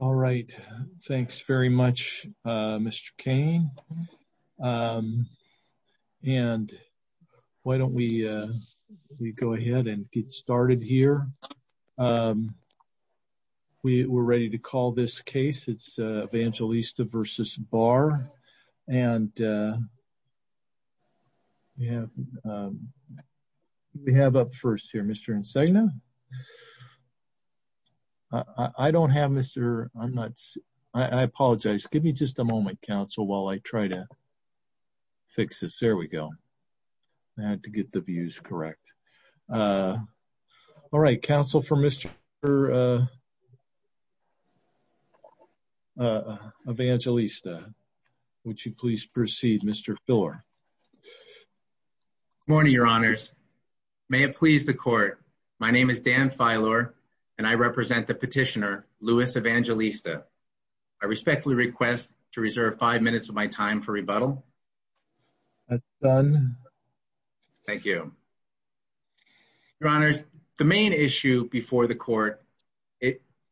All right. Thanks very much, Mr. Cain. And why don't we go ahead and get started here. We're ready to call this case. It's Evangelista v. Barr. And we have up first here, Mr. Insegna. I don't have Mr. I'm not, I apologize. Give me just a moment, counsel, while I try to fix this. There we go. I had to get the views correct. All right, counsel for Mr. Evangelista. Would you please proceed, Mr. Filler? Good morning, your honors. May it please the court. My name is Dan Filler, and I represent the petitioner, Louis Evangelista. I respectfully request to reserve five minutes of my time for the court. It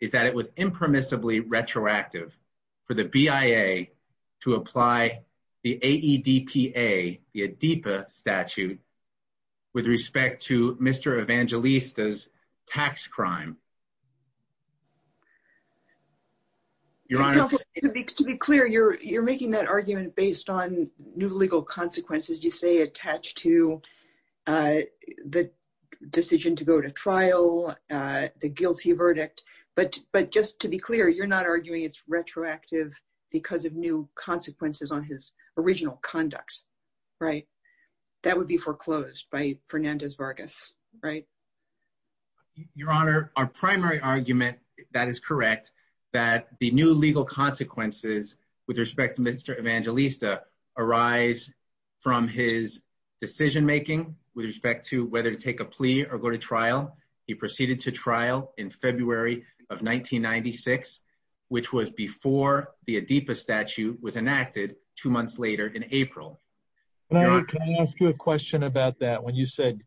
is that it was impermissibly retroactive for the BIA to apply the AEDPA the ADEPA statute with respect to Mr. Evangelista's tax crime. Your honor, to be clear, you're you're making that argument based on new legal consequences, you say attached to the decision to go to trial, the guilty verdict, but but just to be clear, you're not arguing it's retroactive because of new consequences on his original conduct, right? That would be foreclosed by Fernandez Vargas, right? Your honor, our primary argument that is his decision making with respect to whether to take a plea or go to trial. He proceeded to trial in February of 1996, which was before the AEDPA statute was enacted two months later in April. Can I ask you a question about that when you said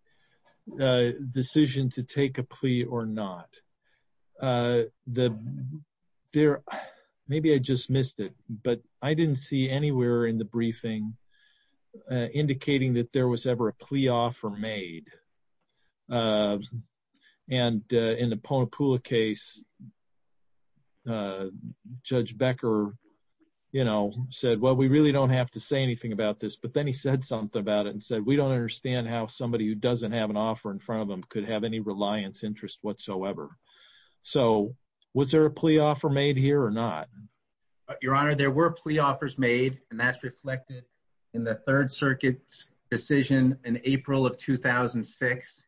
the decision to take a plea or not? Maybe I just missed it, but I didn't see anywhere in the briefing indicating that there was ever a plea offer made. And in the Ponapula case, Judge Becker, you know, said, well, we really don't have to say anything about this. But then he said something about it and said, we don't understand how somebody who doesn't have an offer in front of them could have any reliance interest whatsoever. So was there a plea offer made here or not? Your honor, there were plea offers made, and that's reflected in the Third Circuit's decision in April of 2006.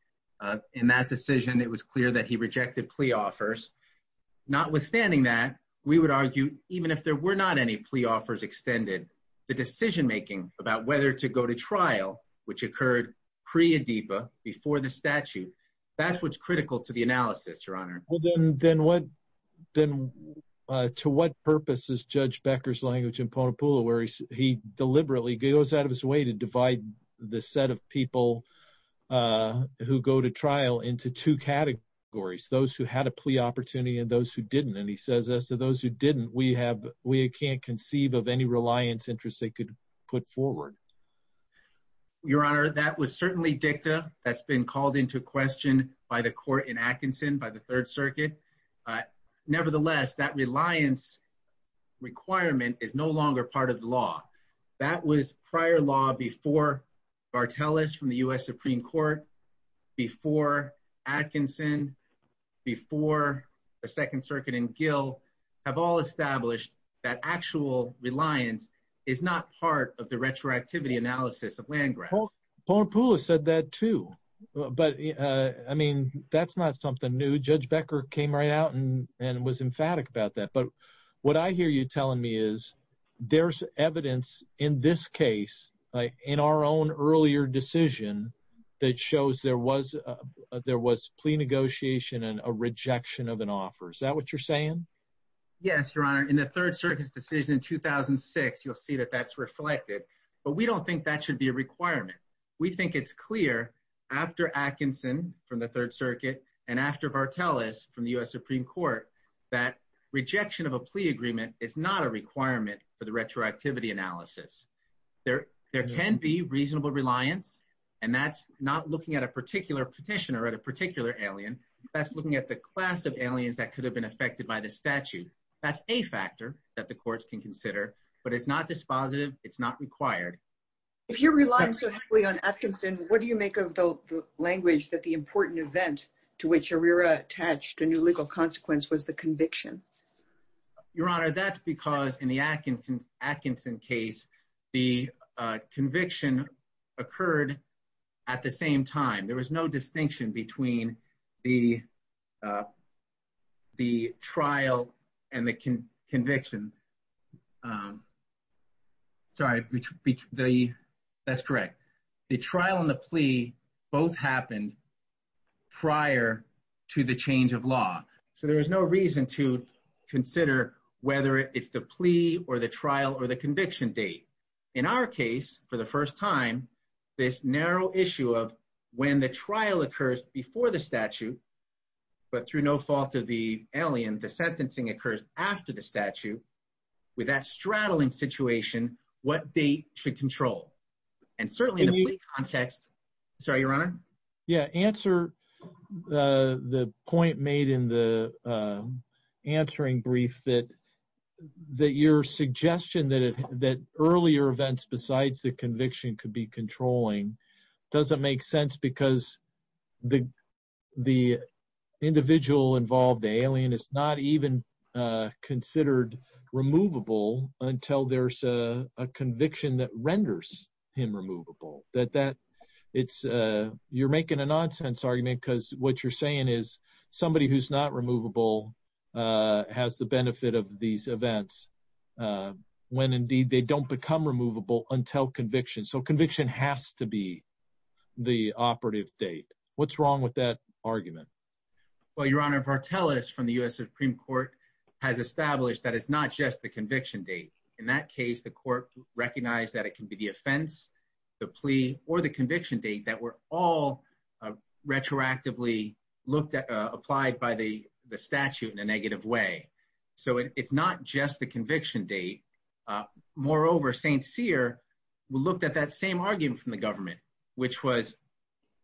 In that decision, it was clear that he rejected plea offers. Notwithstanding that, we would argue, even if there were not any plea offers extended, the decision-making about whether to go to trial, which occurred pre-AEDPA, before the statute, that's what's critical to the analysis, your honor. Well, then to what purpose is Judge Becker's language in Ponapula, where he deliberately goes out of his way to divide the set of people who go to trial into two categories, those who had a plea opportunity and those who didn't? And he says, as to those who didn't, we can't conceive of any reliance interest they could put forward. Your honor, that was certainly dicta that's been called into question by the court in Atkinson, by the Third Circuit. Nevertheless, that reliance requirement is no longer part of the law. That was prior law before Barteles from the U.S. Supreme Court, before Atkinson, before the Second Circuit and Gill, have all established that actual reliance is not part of the retroactivity analysis of land grabs. Ponapula said that too. But, I mean, that's not something new. Judge Becker came right out and was emphatic about that. But what I hear you telling me is there's evidence in this case, in our own earlier decision, that shows there was plea negotiation and a rejection of an offer. Is that what you're saying? Yes, your honor. In the Third Circuit's decision in 2006, you'll see that that's reflected. But we don't think that should be a requirement. We think it's clear after Atkinson from the Third Circuit and after Barteles from the U.S. Supreme Court that rejection of a plea agreement is not a requirement for the retroactivity analysis. There can be reasonable reliance, and that's not looking at a particular petition or at a particular alien. That's looking at the class of aliens that could have been affected by the statute. That's a factor that the courts can consider, but it's not dispositive. It's not required. If you're relying so heavily on Atkinson, what do you make of the language that the important event to which Uriah attached a legal consequence was the conviction? Your honor, that's because in the Atkinson case, the conviction occurred at the same time. There was no distinction between the trial and the So there is no reason to consider whether it's the plea or the trial or the conviction date. In our case, for the first time, this narrow issue of when the trial occurs before the statute, but through no fault of the alien, the sentencing occurs after the statute, with that straddling situation, what date should control? And certainly in the context, sorry, your honor? Yeah, answer. The point made in the answering brief that that your suggestion that that earlier events besides the conviction could be controlling doesn't make sense because the the individual involved alien is not even considered removable until there's a conviction that renders him removable that that it's you're making a nonsense argument because what you're saying is somebody who's not removable has the benefit of these events when indeed they don't become removable until conviction. So conviction has to be the operative date. What's wrong with that argument? Well, your honor, partellus from the U.S. Supreme Court has established that it's not just the conviction date. In that case, the court recognized that it can be the offense, the plea or the conviction date that were all retroactively looked at, applied by the statute in a negative way. So it's not just the conviction date. Moreover, St. Cyr looked at that same argument from the government, which was,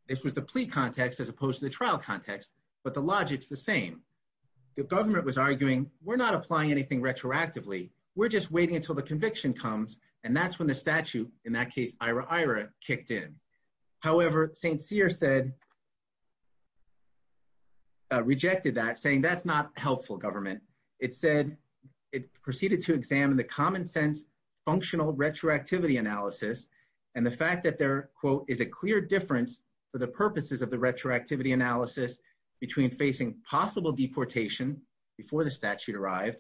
this was the plea context as opposed to the trial context, but the logic's the same. The government was arguing, we're not applying anything retroactively. We're just waiting until the conviction comes. And that's when the statute in that case, IRA, IRA kicked in. However, St. Cyr rejected that saying that's not helpful government. It said it proceeded to examine the common sense, functional retroactivity analysis. And the fact that there is a clear difference for the purposes of the retroactivity analysis between facing possible deportation before the statute arrived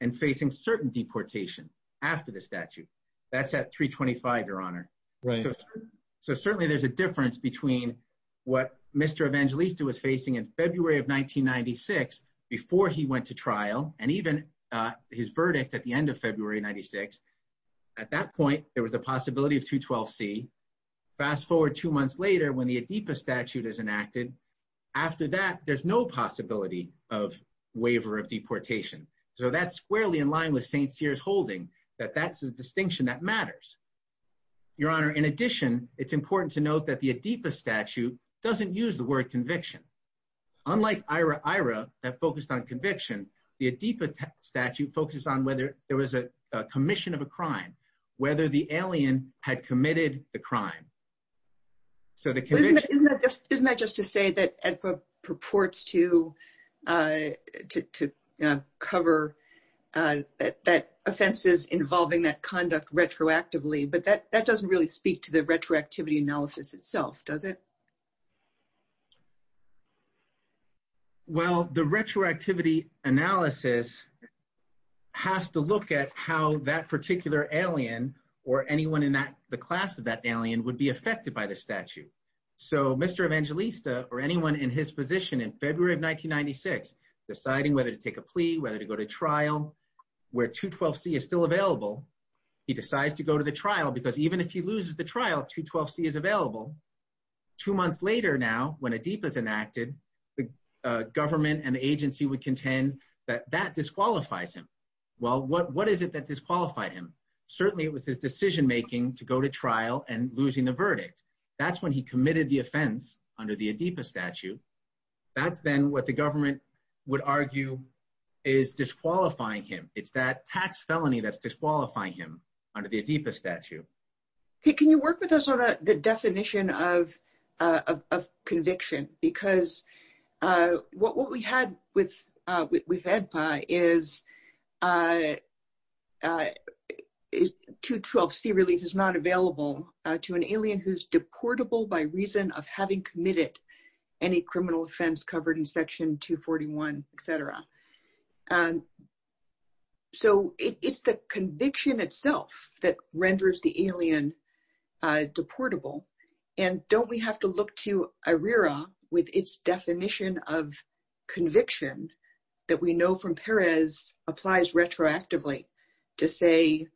and facing certain deportation after the statute. That's at 325, your honor. So certainly there's a difference between what Mr. Evangelista was facing in February of 1996 before he went to trial and even his verdict at the end of February 96. At that point, there was the possibility of 212C. Fast forward two months later when the Adipa statute is enacted. After that, there's no possibility of waiver of deportation. So that's squarely in line with St. Cyr's holding that that's a distinction that matters. Your honor, in addition, it's important to note that the Adipa statute doesn't use the word conviction. Unlike IRA, IRA that focused on conviction, the Adipa statute focuses on whether there was a commission of a crime, whether the alien had committed the crime. Isn't that just to say that Adipa purports to cover that offenses involving that conduct retroactively, but that doesn't really speak to the retroactivity analysis itself, does it? Well, the retroactivity analysis has to look at how that particular alien or anyone in that the class of that alien would be affected by the statute. So Mr. Evangelista or anyone in his position in February of 1996 deciding whether to take a plea, whether to go to trial, where 212C is still available, he decides to go to the trial because even if he loses the trial, 212C is available. Two months later now when Adipa is enacted, the government and the agency would contend that that disqualifies him. Well, what is it that disqualified him? Certainly it was his decision making to go to trial and losing the verdict. That's when he committed the offense under the Adipa statute. That's then what the government would argue is disqualifying him. It's that tax felony that's disqualifying him under the Adipa statute. Can you work with us on the definition of Adipa? 212C relief is not available to an alien who's deportable by reason of having committed any criminal offense covered in section 241, etc. So it's the conviction itself that renders the no from Perez applies retroactively to say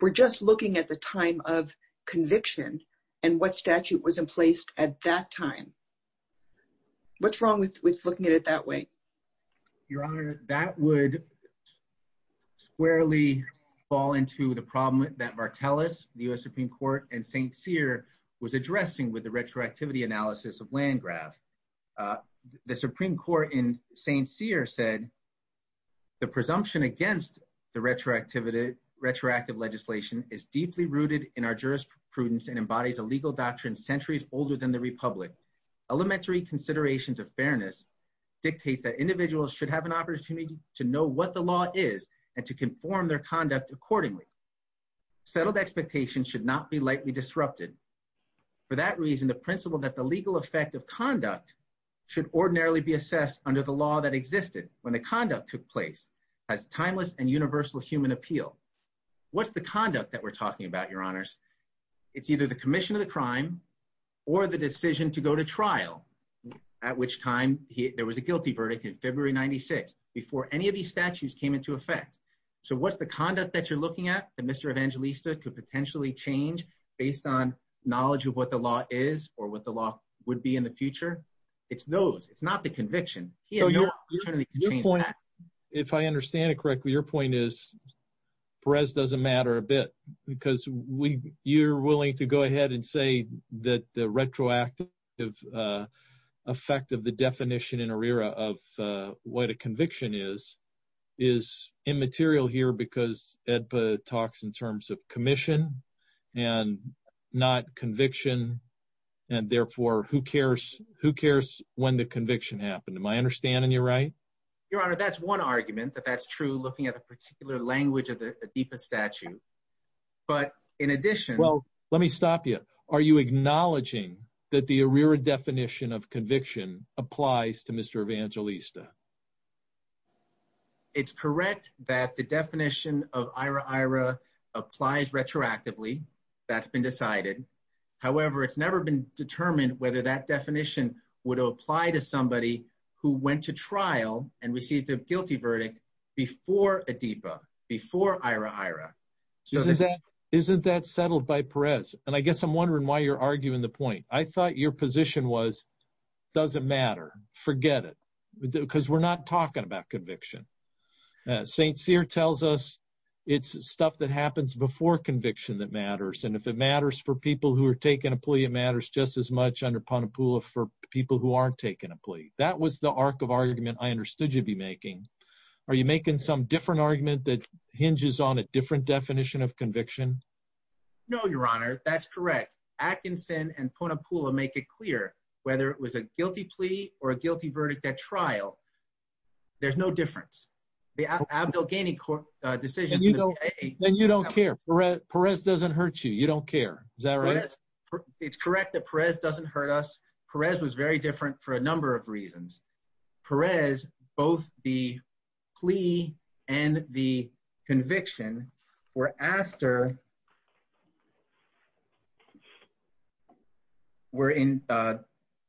we're just looking at the time of conviction and what statute was in place at that time. What's wrong with looking at it that way? Your Honor, that would squarely fall into the problem that Martellus, the U.S. Supreme Court, and St. Cyr was addressing with the retroactivity analysis of Landgraf. The Supreme Court in St. Cyr said the presumption against the retroactive legislation is deeply rooted in our jurisprudence and embodies a legal doctrine centuries older than the Republic. Elementary considerations of fairness dictates that individuals should have an opportunity to know what the law is and to conform their conduct accordingly. Settled expectations should not be lightly disrupted. For that reason, the principle that the legal effect of conduct should ordinarily be assessed under the law that existed when the conduct took place has timeless and universal human appeal. What's the conduct that we're talking about, Your Honors? It's either the commission of the crime or the decision to go to trial, at which time there was a guilty verdict in February 96 before any of these statutes came into effect. So what's the conduct that you're looking at that Mr. Evangelista could potentially change based on knowledge of what the law is or what the law would be in the future? It's those, it's not the conviction. If I understand it correctly, your point is Perez doesn't matter a bit because you're willing to go ahead and say that the retroactive effect of the definition in commission and not conviction and therefore who cares who cares when the conviction happened. Am I understanding you right? Your Honor, that's one argument that that's true looking at a particular language of the Adipa statute, but in addition... Well, let me stop you. Are you acknowledging that the ARERA definition of conviction applies to Mr. Evangelista? It's correct that the definition of ARERA applies retroactively. That's been decided. However, it's never been determined whether that definition would apply to somebody who went to trial and received a guilty verdict before Adipa, before ARERA. Isn't that settled by Perez? And I guess I'm wondering why you're arguing the point. I thought your position was, doesn't matter, forget it because we're not talking about conviction. St. Cyr tells us it's stuff that happens before conviction that matters. And if it matters for people who are taking a plea, it matters just as much under Ponapula for people who aren't taking a plea. That was the arc of argument I understood you'd be making. Are you making some different argument that hinges on a different definition of conviction? No, your Honor, that's correct. Atkinson and Ponapula make it clear whether it was a guilty plea or a guilty verdict at trial, there's no difference. The Abdel Ghani court decision... And you don't care. Perez doesn't hurt you. You don't care. Is that right? It's correct that Perez doesn't hurt us. Perez was very different for a number of reasons. Perez, both the plea and the conviction were after...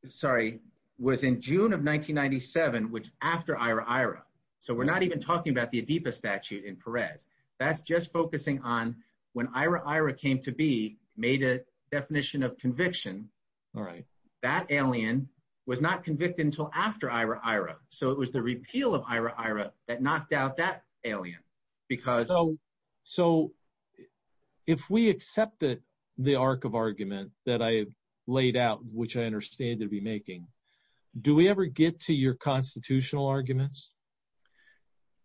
Sorry, was in June of 1997, which after Ira-Ira. So we're not even talking about the Adipa statute in Perez. That's just focusing on when Ira-Ira came to be, made a definition of conviction. All right. That alien was not convicted until after Ira-Ira. So it was the repeal of Ira-Ira that knocked out that alien because... So if we accepted the arc of argument that I laid out, which I understand they'd be making, do we ever get to your constitutional arguments?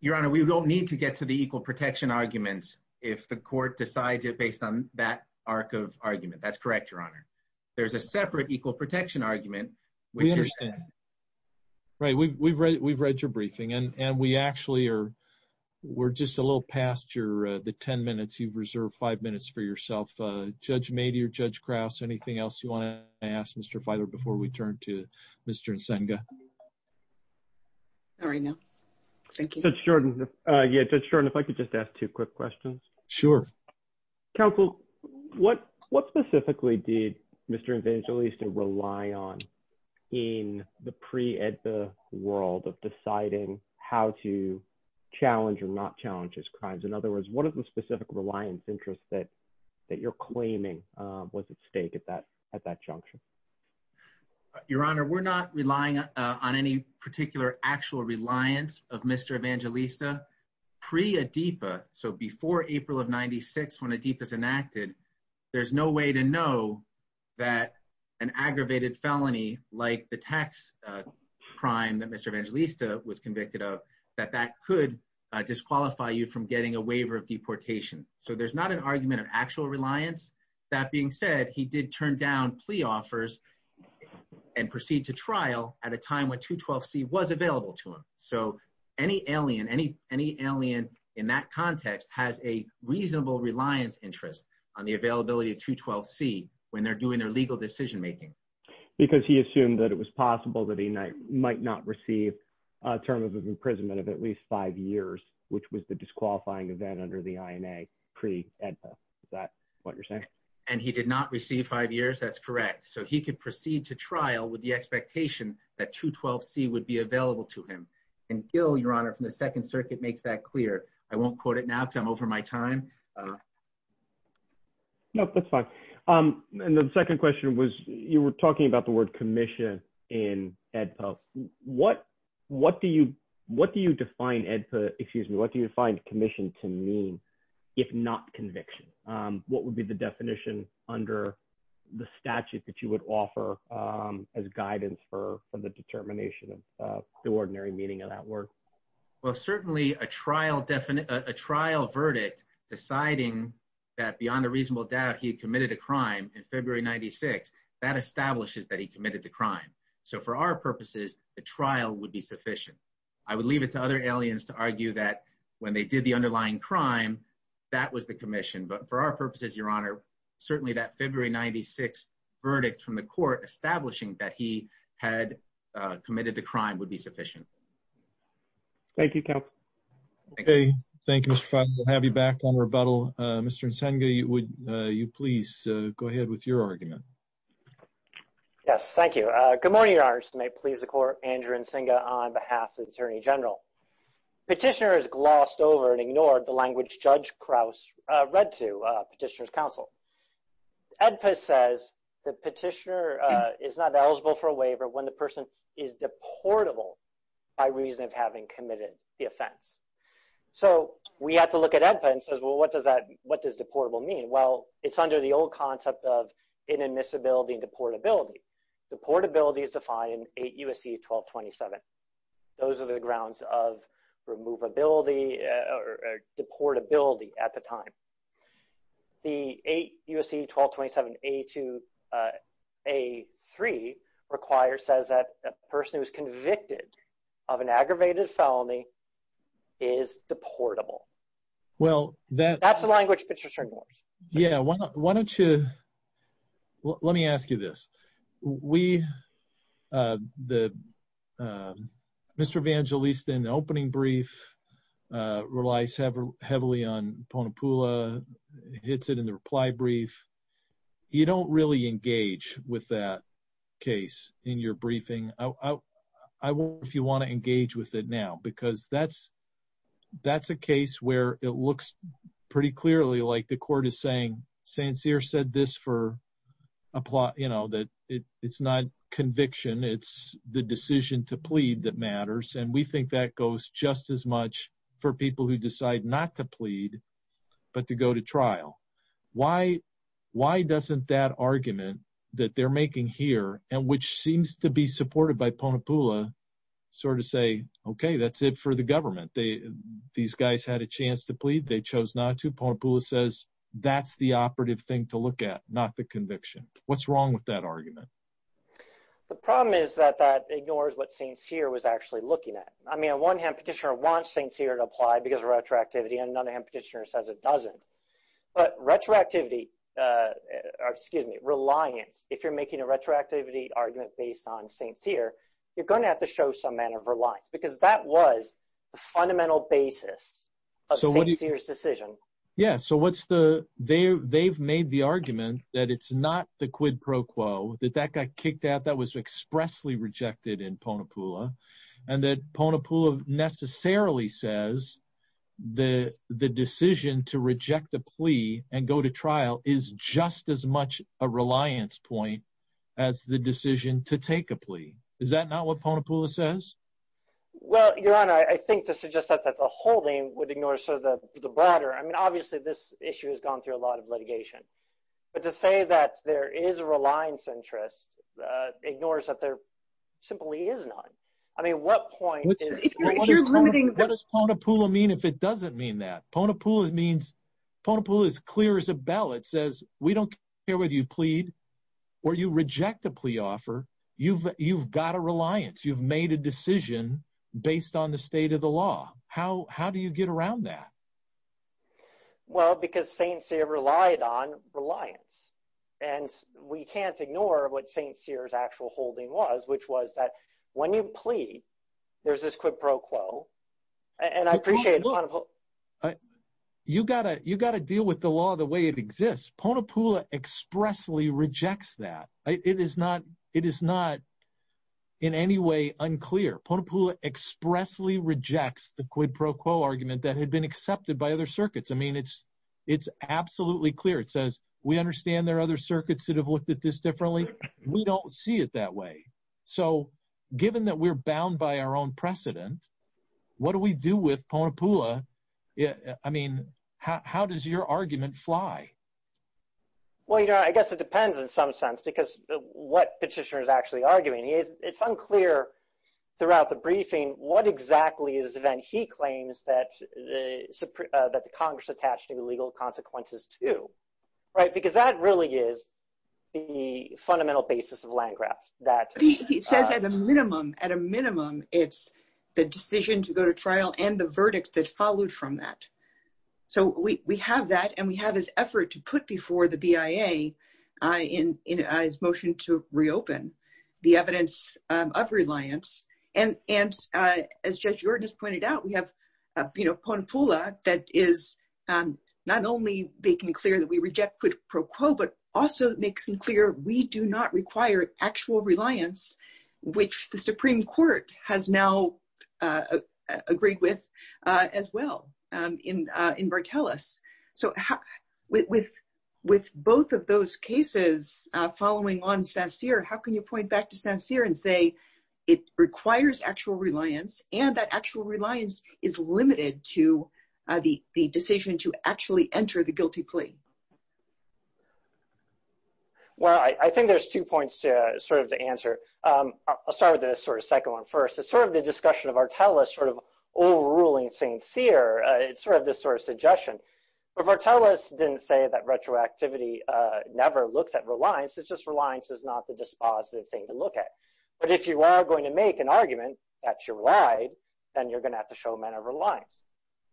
Your Honor, we don't need to get to the equal protection arguments if the court decides it based on that arc of argument. That's correct, your Honor. There's a separate equal protection argument, which is... We understand. Right. We've read your briefing and we actually are... We're just a little past the 10 minutes. You've reserved five minutes for yourself. Judge Mady or Judge Krause, anything else you want to ask Mr. Feithler before we turn to Mr. Nsenga? All right, no. Thank you. Judge Shorten, if I could just ask two quick questions. Sure. Counsel, what specifically did Mr. Evangelista rely on in the pre-ADIPA world of deciding how to challenge or not challenge his crimes? In other words, what is the specific reliance interest that you're claiming was at stake at that junction? Your Honor, we're not relying on any particular actual reliance of Mr. Evangelista pre-ADIPA. So before April of 96, when ADIPA is enacted, there's no way to know that an aggravated felony, like the tax crime that Mr. Evangelista was convicted of, that that could disqualify you from getting a waiver of deportation. So there's not an argument of actual reliance. That being said, he did turn down plea offers and proceed to trial at a time when 212C was available to him. So any alien in that context has a reasonable reliance interest on the availability of 212C when they're doing their legal decision-making. Because he assumed that it was possible that he might not receive a term of imprisonment of at least five years, which was the disqualifying event under the INA pre-ADIPA. Is that what you're saying? And he did not receive five years? That's correct. So he could proceed to trial with the expectation that 212C would be available to him. And Gil, Your Honor, from the Second Circuit makes that clear. I won't quote it now because I'm over my time. No, that's fine. And the second question was, you were talking about the word commission in AEDPA. What do you define AEDPA, excuse me, what do you define commission to mean, if not conviction? What would be the definition under the statute that you would offer as guidance for the determination of the ordinary meaning of that word? Well, certainly a trial verdict, deciding that beyond a reasonable doubt, he had committed a crime in February 96, that establishes that he committed the crime. So for our purposes, the trial would be sufficient. I would leave it to other aliens to argue that when they did the underlying crime, that was the commission. But for our purposes, Your Honor, certainly that February 96 verdict from the court establishing that he had committed the crime would be sufficient. Thank you, Kemp. Okay. Thank you, Mr. Feinberg. We'll have you back on rebuttal. Mr. Nsingha, would you please go ahead with your argument? Yes, thank you. Good morning, Your Honor. I just may please the court, Andrew Nsingha on behalf of the Attorney General. Petitioner has glossed over and ignored the language Judge Krauss read to petitioner's counsel. AEDPA says the petitioner is not eligible for a waiver when the person is deportable by reason of having committed the offense. So we have to look at AEDPA and says, what does deportable mean? Well, it's under the old concept of inadmissibility and deportability. Deportability is defined in 8 U.S.C. 1227. Those are the grounds of removability or deportability at the time. The 8 U.S.C. 1227 A3 requires, says that a person who's convicted of an aggravated felony is deportable. Well, that's the language Petitioner ignored. Yeah. Why don't you, let me ask you this. We, the, Mr. Evangelista in the opening brief relies heavily on Ponapula, hits it in the reply brief. You don't really engage with that in your briefing. I wonder if you want to engage with it now, because that's, that's a case where it looks pretty clearly like the court is saying, Sincere said this for a plot, you know, that it's not conviction. It's the decision to plead that matters. And we think that goes just as much for people who decide not to plead, but to go to trial. Why, why doesn't that argument that they're making here, and which seems to be supported by Ponapula sort of say, okay, that's it for the government. They, these guys had a chance to plead. They chose not to. Ponapula says, that's the operative thing to look at, not the conviction. What's wrong with that argument? The problem is that that ignores what Sincere was actually looking at. I mean, on one hand, Petitioner wants Sincere to apply because of retroactivity, and on the other hand, Petitioner says it doesn't. But retroactivity, excuse me, reliance, if you're making a retroactivity argument based on Sincere, you're going to have to show some manner of reliance, because that was the fundamental basis of Sincere's decision. Yeah, so what's the, they've made the argument that it's not the quid pro quo, that that got kicked out, that was expressly rejected in Ponapula, and that Ponapula necessarily says the decision to reject a plea and go to trial is just as much a reliance point as the decision to take a plea. Is that not what Ponapula says? Well, Your Honor, I think to suggest that that's a holding would ignore sort of the broader, I mean, obviously, this issue has gone through a lot of litigation. But to say that there is a reliance interest ignores that there simply is I mean, what point? What does Ponapula mean if it doesn't mean that? Ponapula means, Ponapula is clear as a bell. It says, we don't care whether you plead or you reject the plea offer, you've got a reliance, you've made a decision based on the state of the law. How do you get around that? Well, because Sincere relied on reliance. And we can't ignore what Sincere's actual holding was, which was that when you plead, there's this quid pro quo. And I appreciate it. You got to you got to deal with the law the way it exists. Ponapula expressly rejects that it is not it is not in any way unclear. Ponapula expressly rejects the quid pro quo argument that had been accepted by other circuits. I mean, it's it's absolutely clear. It doesn't see it that way. So given that we're bound by our own precedent, what do we do with Ponapula? Yeah, I mean, how does your argument fly? Well, you know, I guess it depends in some sense, because what petitioner is actually arguing is it's unclear throughout the briefing, what exactly is the event he claims that the Congress attached to legal consequences to, right? Because that really is the fundamental basis of land grabs that he says at a minimum, at a minimum, it's the decision to go to trial and the verdict that followed from that. So we have that. And we have this effort to put before the BIA in his motion to reopen the evidence of reliance. And as Judge Jordan has pointed out, we have, you know, Ponapula that is not only making clear that we reject quid pro quo, but also makes them clear, we do not require actual reliance, which the Supreme Court has now agreed with, as well, in in Bartelus. So with with both of those cases, following on Sancir, how can you point back to Sancir and say, it requires actual reliance, and that actual reliance is limited to the decision to actually enter the guilty plea? Well, I think there's two points to sort of the answer. I'll start with this sort of second one first, it's sort of the discussion of Bartelus sort of overruling Sancir, it's sort of this sort of suggestion. But Bartelus didn't say that retroactivity never looks at reliance, it's just reliance is not the dispositive thing to look at. But if you are going to make an argument that you're right, then you're going to have to show a man of reliance.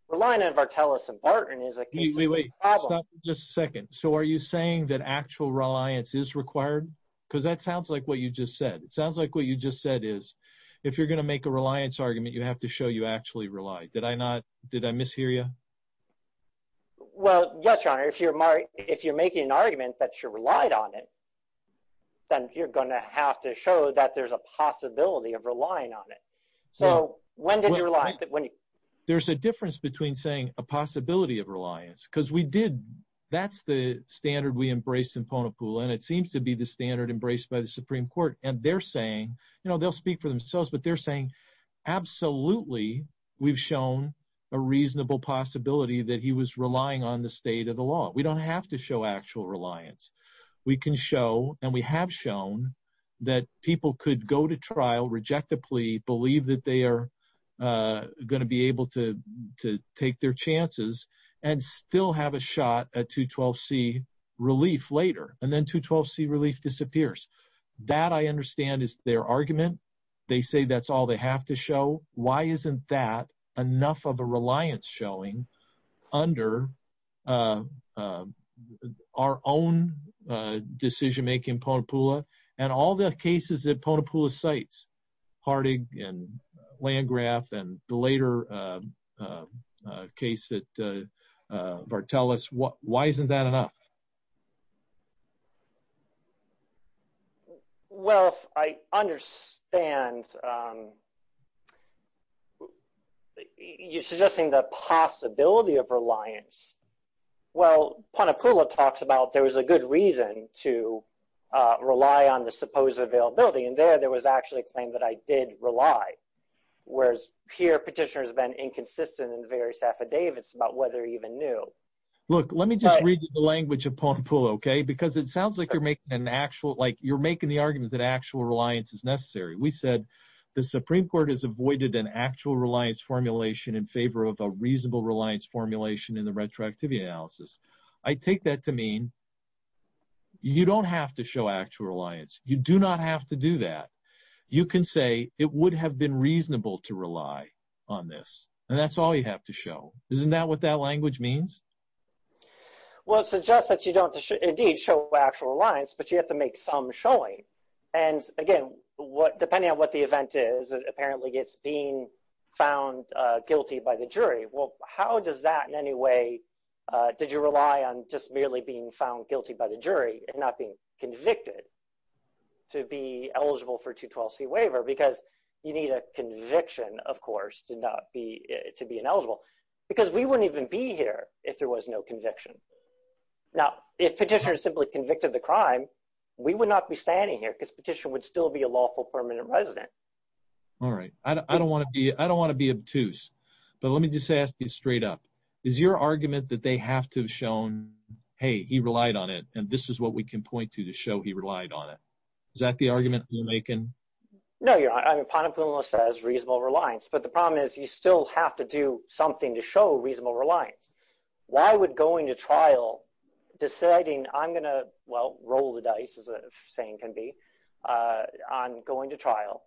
Reliant of Bartelus and Barton is a problem. Just a second. So are you saying that actual reliance is required? Because that sounds like what you just said. It sounds like what you just said is, if you're going to make a reliance argument, you have to show you actually rely. Did I not? Did I mishear you? Well, yes, your honor, if you're if you're making an argument that you're relied on it, then you're going to have to show that there's a possibility of relying on it. So when did you realize that when? There's a difference between saying a possibility of reliance, because we did. That's the standard we embraced in Ponapoole. And it seems to be the standard embraced by the Supreme Court. And they're saying, you know, they'll speak for themselves. But they're saying, absolutely, we've shown a reasonable possibility that he was relying on the state of the law. We don't have to show actual reliance. We can show and we have shown that people could go to trial, reject the plea, believe that they are going to be able to take their chances and still have a shot at 212 C relief later and then to 12 C relief disappears. That I understand is their argument. They say that's all they have to show. Why isn't that enough of a reliance showing under our own decision making Ponapoole and all the cases that Ponapoole cites, Harding and Landgraf and the later case that Vartelis, why isn't that enough? Well, I understand you suggesting the possibility of reliance. Well, Ponapoole talks about there was a good reason to rely on the supposed availability. And there, there was actually a claim that I did rely. Whereas here petitioners have been inconsistent in various affidavits about whether he even knew. Look, let me just read the language of Ponapoole. Okay. Because it sounds like you're making an actual, like you're making the argument that actual reliance is necessary. We said the Supreme court has avoided an actual reliance formulation in favor of a reasonable reliance formulation in the retroactivity analysis. I take that to mean you don't have to show actual reliance. You do not have to do that. You can say it would have been reasonable to rely on this and that's all you have to show. Isn't that what that language means? Well, it suggests that you don't indeed show actual reliance, but you have to make some showing. And again, what, depending on what the event is, apparently it's being found guilty by the jury. Well, how does that in any way, did you rely on just merely being found guilty by the jury and not being convicted to be eligible for 212 C waiver? Because you need a conviction of course, to not be, to be ineligible because we wouldn't even be here if there was no conviction. Now, if petitioners simply convicted the crime, we would not be standing here because petition would still be a lawful permanent resident. All right. I don't want to be, I don't want to be obtuse, but let me just ask you straight up. Is your argument that they have to have shown, Hey, he relied on it. And this is what we can know. You're on, I'm upon a pillow says reasonable reliance, but the problem is you still have to do something to show reasonable reliance. Why would going to trial deciding I'm going to, well, roll the dice as a saying can be, uh, on going to trial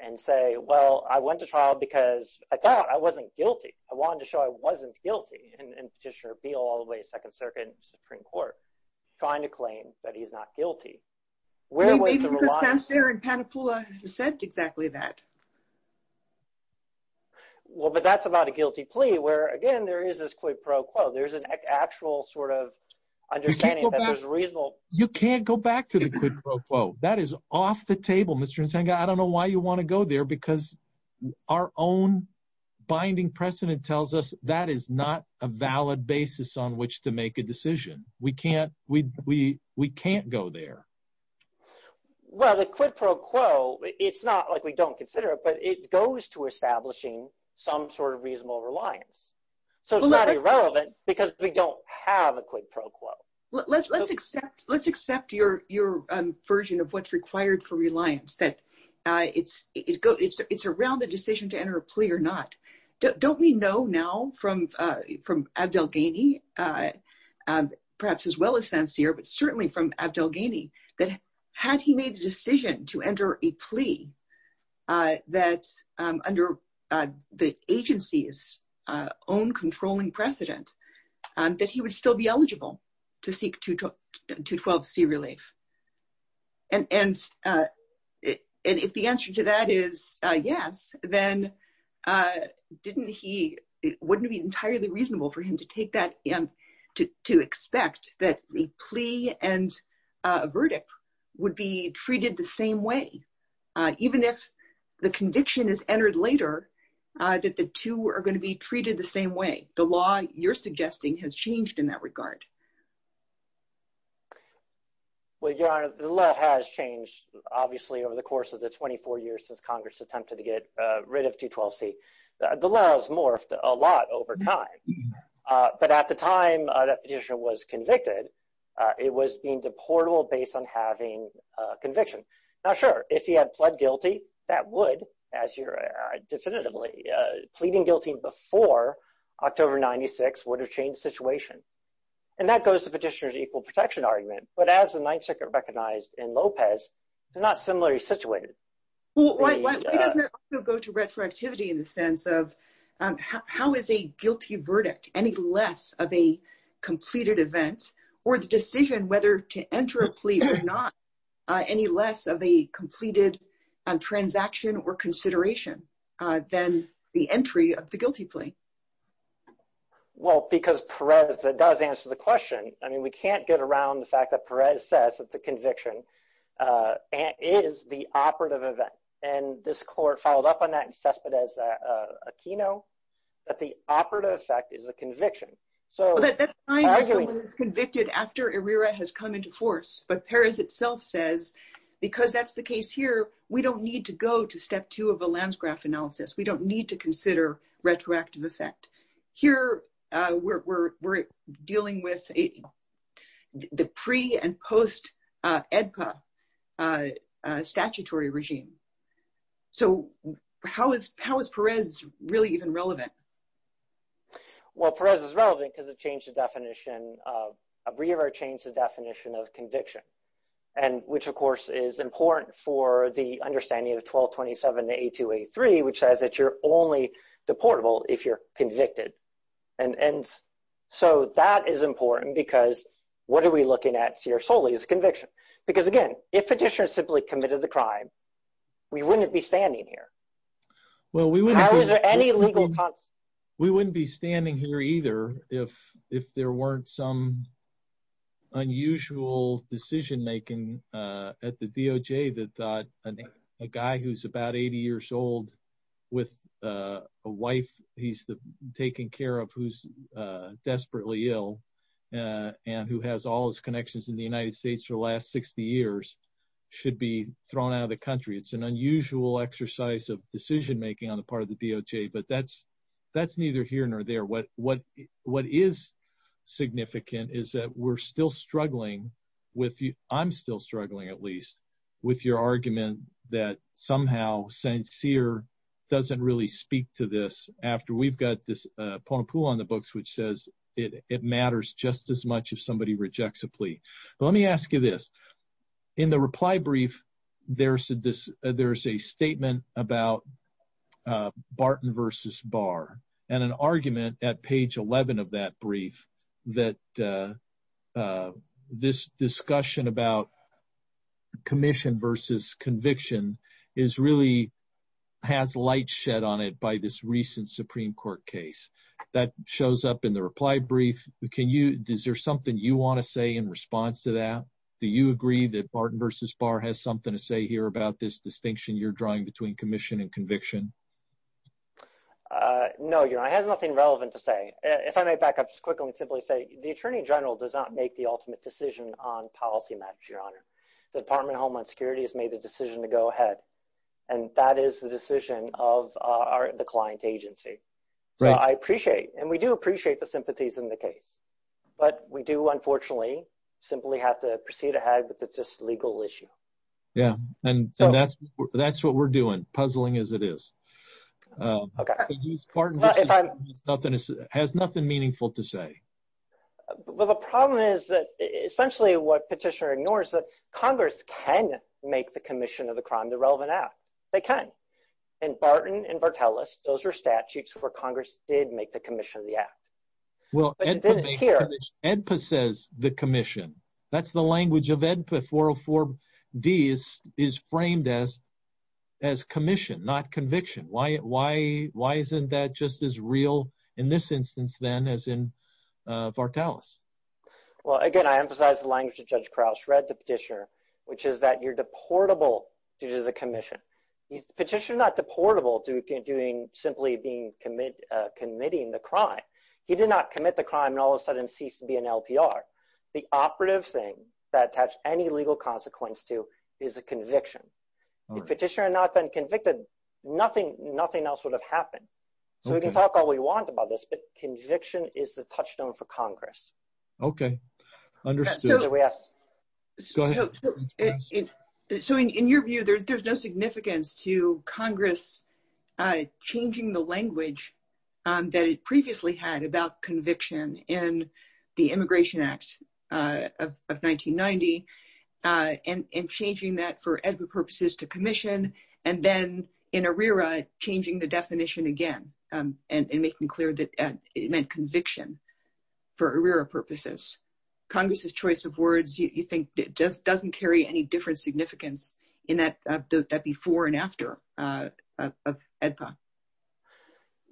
and say, well, I went to trial because I thought I wasn't guilty. I wanted to show I wasn't guilty and petitioner appeal all the way Supreme court trying to claim that he's not guilty. Where was the reliance there? And Patipula said exactly that. Well, but that's about a guilty plea where again, there is this quid pro quo. There's an actual sort of understanding that there's reasonable. You can't go back to the quid pro quo. That is off the table, Mr. Nsenka. I don't know why you want to go there because our own binding precedent tells us that is not a valid basis on which to make a decision. We can't, we, we, we can't go there. Well, the quid pro quo, it's not like we don't consider it, but it goes to establishing some sort of reasonable reliance. So it's not irrelevant because we don't have a quid pro quo. Let's let's accept, let's accept your, your version of what's required for reliance that it's, it's, it's, it's around the decision to enter a plea or not. Don't we know now from, from Abdel Ghani, perhaps as well as Sancir, but certainly from Abdel Ghani, that had he made the decision to enter a plea that under the agency's own controlling precedent, that he would still be eligible to seek 212C relief. And, and if the answer to that is yes, then didn't he, it wouldn't be entirely reasonable for him to take that and to, to expect that the plea and verdict would be treated the same way, even if the conviction is entered later, that the two are going to be treated the same way. The law you're suggesting has changed in that regard. Well, Your Honor, the law has changed obviously over the course of the 24 years since Congress attempted to get rid of 212C. The laws morphed a lot over time. But at the time that petitioner was convicted, it was deemed deportable based on having a conviction. Now, sure, if he had pled guilty, that would, as you're definitively pleading guilty before October 96 would have changed the situation. And that goes to petitioner's equal protection argument. But as the Ninth Circuit recognized in Lopez, they're not similarly situated. Why doesn't it also go to retroactivity in the sense of how is a guilty verdict any less of a completed transaction or consideration than the entry of the guilty plea? Well, because Perez does answer the question. I mean, we can't get around the fact that Perez says that the conviction is the operative event. And this court followed up on that in Céspedes' Aquino, that the operative effect is the conviction. So that's fine if someone is convicted after Erira has come into force. But Perez itself says, because that's the case here, we don't need to go to step two of a landscraft analysis. We don't need to consider retroactive effect. Here, we're dealing with the pre and post-EDPA statutory regime. So how is Perez really even relevant? Well, Perez is relevant because it changed Erira's definition of conviction, which, of course, is important for the understanding of 1227 to 8283, which says that you're only deportable if you're convicted. And so that is important because what are we looking at here solely is conviction. Because again, if petitioners simply committed the crime, we wouldn't be standing here. Well, we wouldn't be standing here either if there weren't some unusual decision making at the DOJ that a guy who's about 80 years old with a wife he's taking care of who's desperately ill and who has all his connections in the United States for the last 60 years should be thrown out of the country. It's an unusual exercise of decision making on the part of the DOJ, but that's neither here nor there. What is significant is that we're still struggling with, I'm still struggling at least, with your argument that somehow sincere doesn't really speak to this after we've got this point pool on the books, which says it matters just as much if it doesn't. In the reply brief, there's a statement about Barton versus Barr and an argument at page 11 of that brief that this discussion about commission versus conviction has light shed on it by this recent Supreme Court case that shows up in the reply brief. Is there something you want to say in response to that? Do you agree that Barton versus Barr has something to say here about this distinction you're drawing between commission and conviction? No, Your Honor. It has nothing relevant to say. If I may back up just quickly and simply say, the Attorney General does not make the ultimate decision on policy matters, Your Honor. The Department of Homeland Security has made the decision to go ahead, and that is the decision of the client agency. I appreciate, and we do appreciate the sympathies in the case, but we do unfortunately simply have to proceed ahead with this legal issue. Yeah, and that's what we're doing, puzzling as it is. Has nothing meaningful to say. The problem is that essentially what Petitioner ignores is that Congress can make the commission of the crime the relevant act. They can. In Barton and Vartelis, those are statutes where Congress did make the commission of the act. Edpa says the commission. That's the language of Edpa. 404D is framed as commission, not conviction. Why isn't that just as real in this instance then as in Vartelis? Well, again, I emphasize the language of Judge is a commission. Petitioner is not deportable to simply committing the crime. He did not commit the crime and all of a sudden ceased to be an LPR. The operative thing that has any legal consequence to is a conviction. If Petitioner had not been convicted, nothing else would have happened. So we can talk all we want about this, but conviction is the touchstone for Congress. Okay, understood. So in your view, there's no significance to Congress changing the language that it previously had about conviction in the Immigration Act of 1990 and changing that for Edpa purposes to commission and then in ARERA, changing the definition again and making clear it meant conviction for ARERA purposes. Congress's choice of words, you think it just doesn't carry any different significance in that before and after of Edpa?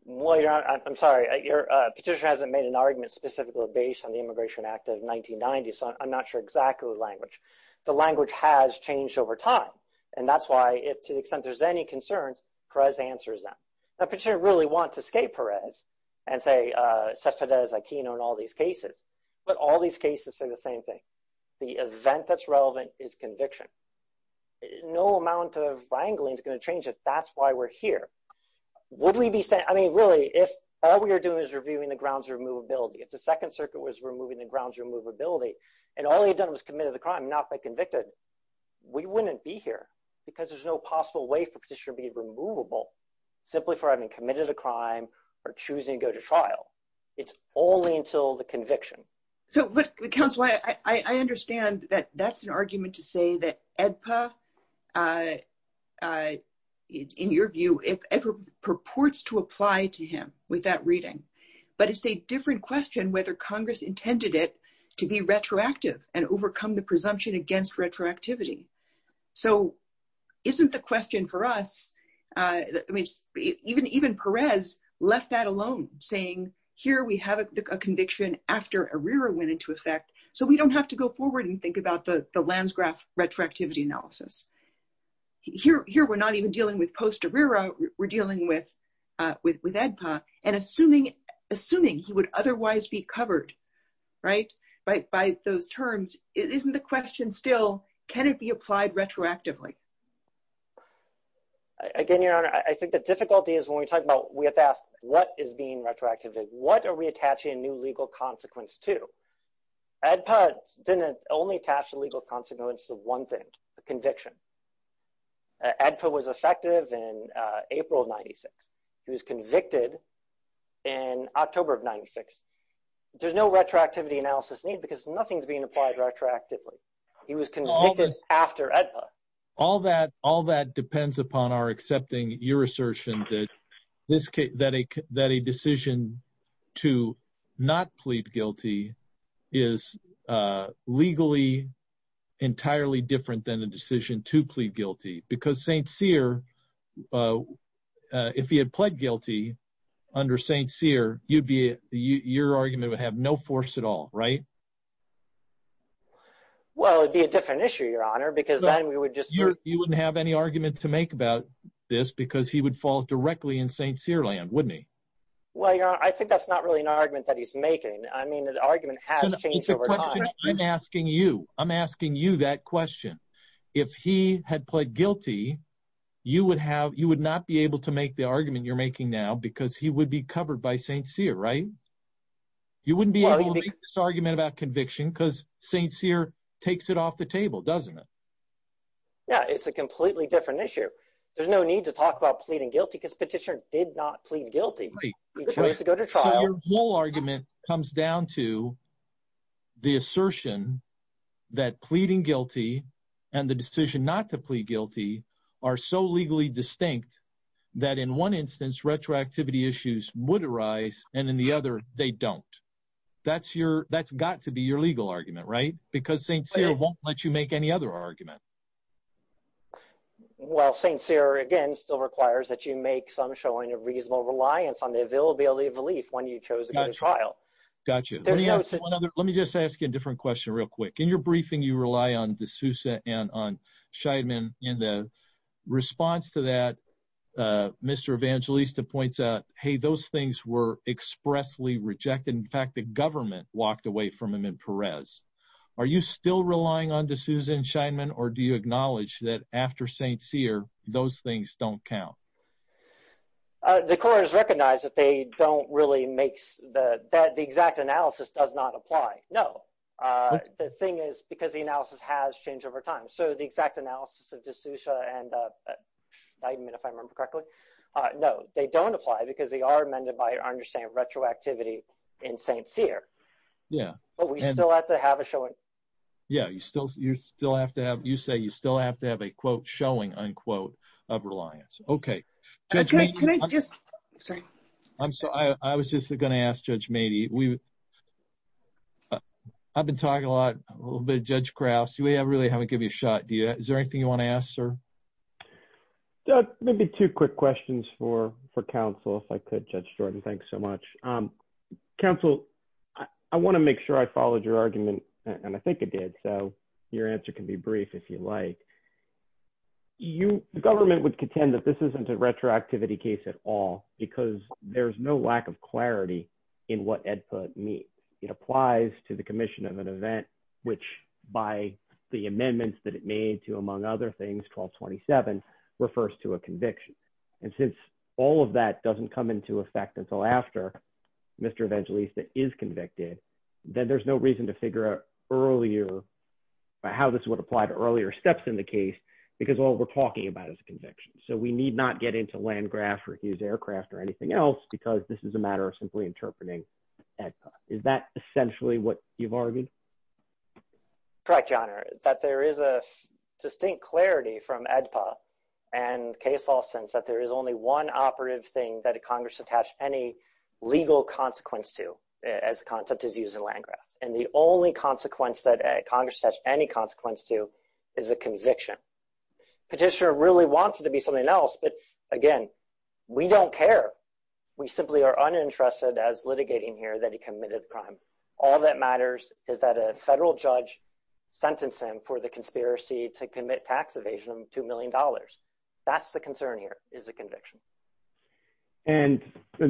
Well, I'm sorry. Petitioner hasn't made an argument specifically based on the Immigration Act of 1990, so I'm not sure exactly the language. The language has changed over time and that's why if to the extent there's any concerns, Perez answers them. Petitioner really wants to escape Perez and say Cesar Perez Aquino in all these cases, but all these cases say the same thing. The event that's relevant is conviction. No amount of wrangling is going to change it. That's why we're here. Would we be saying, I mean, really, if all we are doing is reviewing the grounds of removability, if the Second Circuit was removing the grounds of removability and all they had done was committed the crime, not by convicted, we wouldn't be here because there's no possible way for Petitioner to be removable simply for having committed a crime or choosing to go to trial. It's only until the conviction. So, Counselor, I understand that that's an argument to say that Edpa, in your view, purports to apply to him with that reading, but it's a different question whether Congress intended it to be retroactive and overcome the question for us. I mean, even Perez left that alone, saying here we have a conviction after ARERA went into effect, so we don't have to go forward and think about the Landsgraf retroactivity analysis. Here we're not even dealing with post-ARERA, we're dealing with Edpa, and assuming he would otherwise be covered by those terms, isn't the question still, can it be applied retroactively? Again, Your Honor, I think the difficulty is when we talk about, we have to ask, what is being retroactively? What are we attaching a new legal consequence to? Edpa didn't only attach a legal consequence to one thing, a conviction. Edpa was effective in April of 96. He was convicted in October of 96. There's no retroactivity analysis need because nothing's being applied retroactively. He was convicted after Edpa. All that depends upon our accepting your assertion that a decision to not plead guilty is legally entirely different than a decision to plead guilty, because St. Cyr, if he had pled guilty under St. Cyr, your argument would have no force at all, right? Well, it'd be a different issue, Your Honor, because then we would just... So you wouldn't have any argument to make about this because he would fall directly in St. Cyr land, wouldn't he? Well, Your Honor, I think that's not really an argument that he's making. I mean, the argument has changed over time. I'm asking you. I'm asking you that question. If he had pled guilty, you would not be able to make the argument you're making now because he would be covered by St. Cyr, right? You wouldn't be able to make this argument about conviction because St. Cyr takes it off the table, doesn't it? Yeah, it's a completely different issue. There's no need to talk about pleading guilty because petitioner did not plead guilty. He chose to go to trial. Your whole argument comes down to the assertion that pleading guilty and the decision not to plead guilty are so legally distinct that in one instance retroactivity issues would arise, and in the other, they don't. That's got to be your legal argument, right? Because St. Cyr won't let you make any other argument. Well, St. Cyr, again, still requires that you make some showing of reasonable reliance on the availability of relief when you chose to go to trial. Gotcha. Let me just ask you a different question real quick. In your briefing, you rely on DeSouza and on Scheidman. In the response to that, Mr. Evangelista points out, hey, those things were expressly rejected. In fact, the government walked away from them in Perez. Are you still relying on DeSouza and Scheidman, or do you acknowledge that after St. Cyr, those things don't count? The court has recognized that the exact analysis does not apply. No. The thing is because the analysis has changed over time. So the exact analysis of DeSouza and Scheidman, if I remember correctly, no, they don't apply because they are amended by our understanding of retroactivity in St. Cyr. Yeah. But we still have to have a showing. Yeah. You say you still have to have a, quote, showing, unquote, of reliance. Okay. I was just going to ask Judge Meadey. I've been talking a lot, a little bit, Judge Krause. We really haven't given you a shot. Is there anything you want to ask, sir? Maybe two quick questions for counsel, if I could, Judge Jordan. Thanks so much. Counsel, I want to make sure I followed your argument, and I think it did. So your answer can be brief if you like. The government would contend that this isn't a retroactivity case at all because there's no lack of clarity in what EDPA means. It applies to the commission of an things, 1227, refers to a conviction. And since all of that doesn't come into effect until after Mr. Evangelista is convicted, then there's no reason to figure out earlier, how this would apply to earlier steps in the case because all we're talking about is a conviction. So we need not get into Landgraf or Hughes Aircraft or anything else because this is a matter of simply interpreting EDPA. Is that essentially what you've argued? Correct, Your Honor, that there is a distinct clarity from EDPA and case law sense that there is only one operative thing that Congress attached any legal consequence to as the concept is used in Landgraf. And the only consequence that Congress has any consequence to is a conviction. Petitioner really wants it to be something else, but again, we don't care. We simply are uninterested as litigating here that he committed a crime. All that matters is that he's not a federal judge sentencing for the conspiracy to commit tax evasion of $2 million. That's the concern here is a conviction. And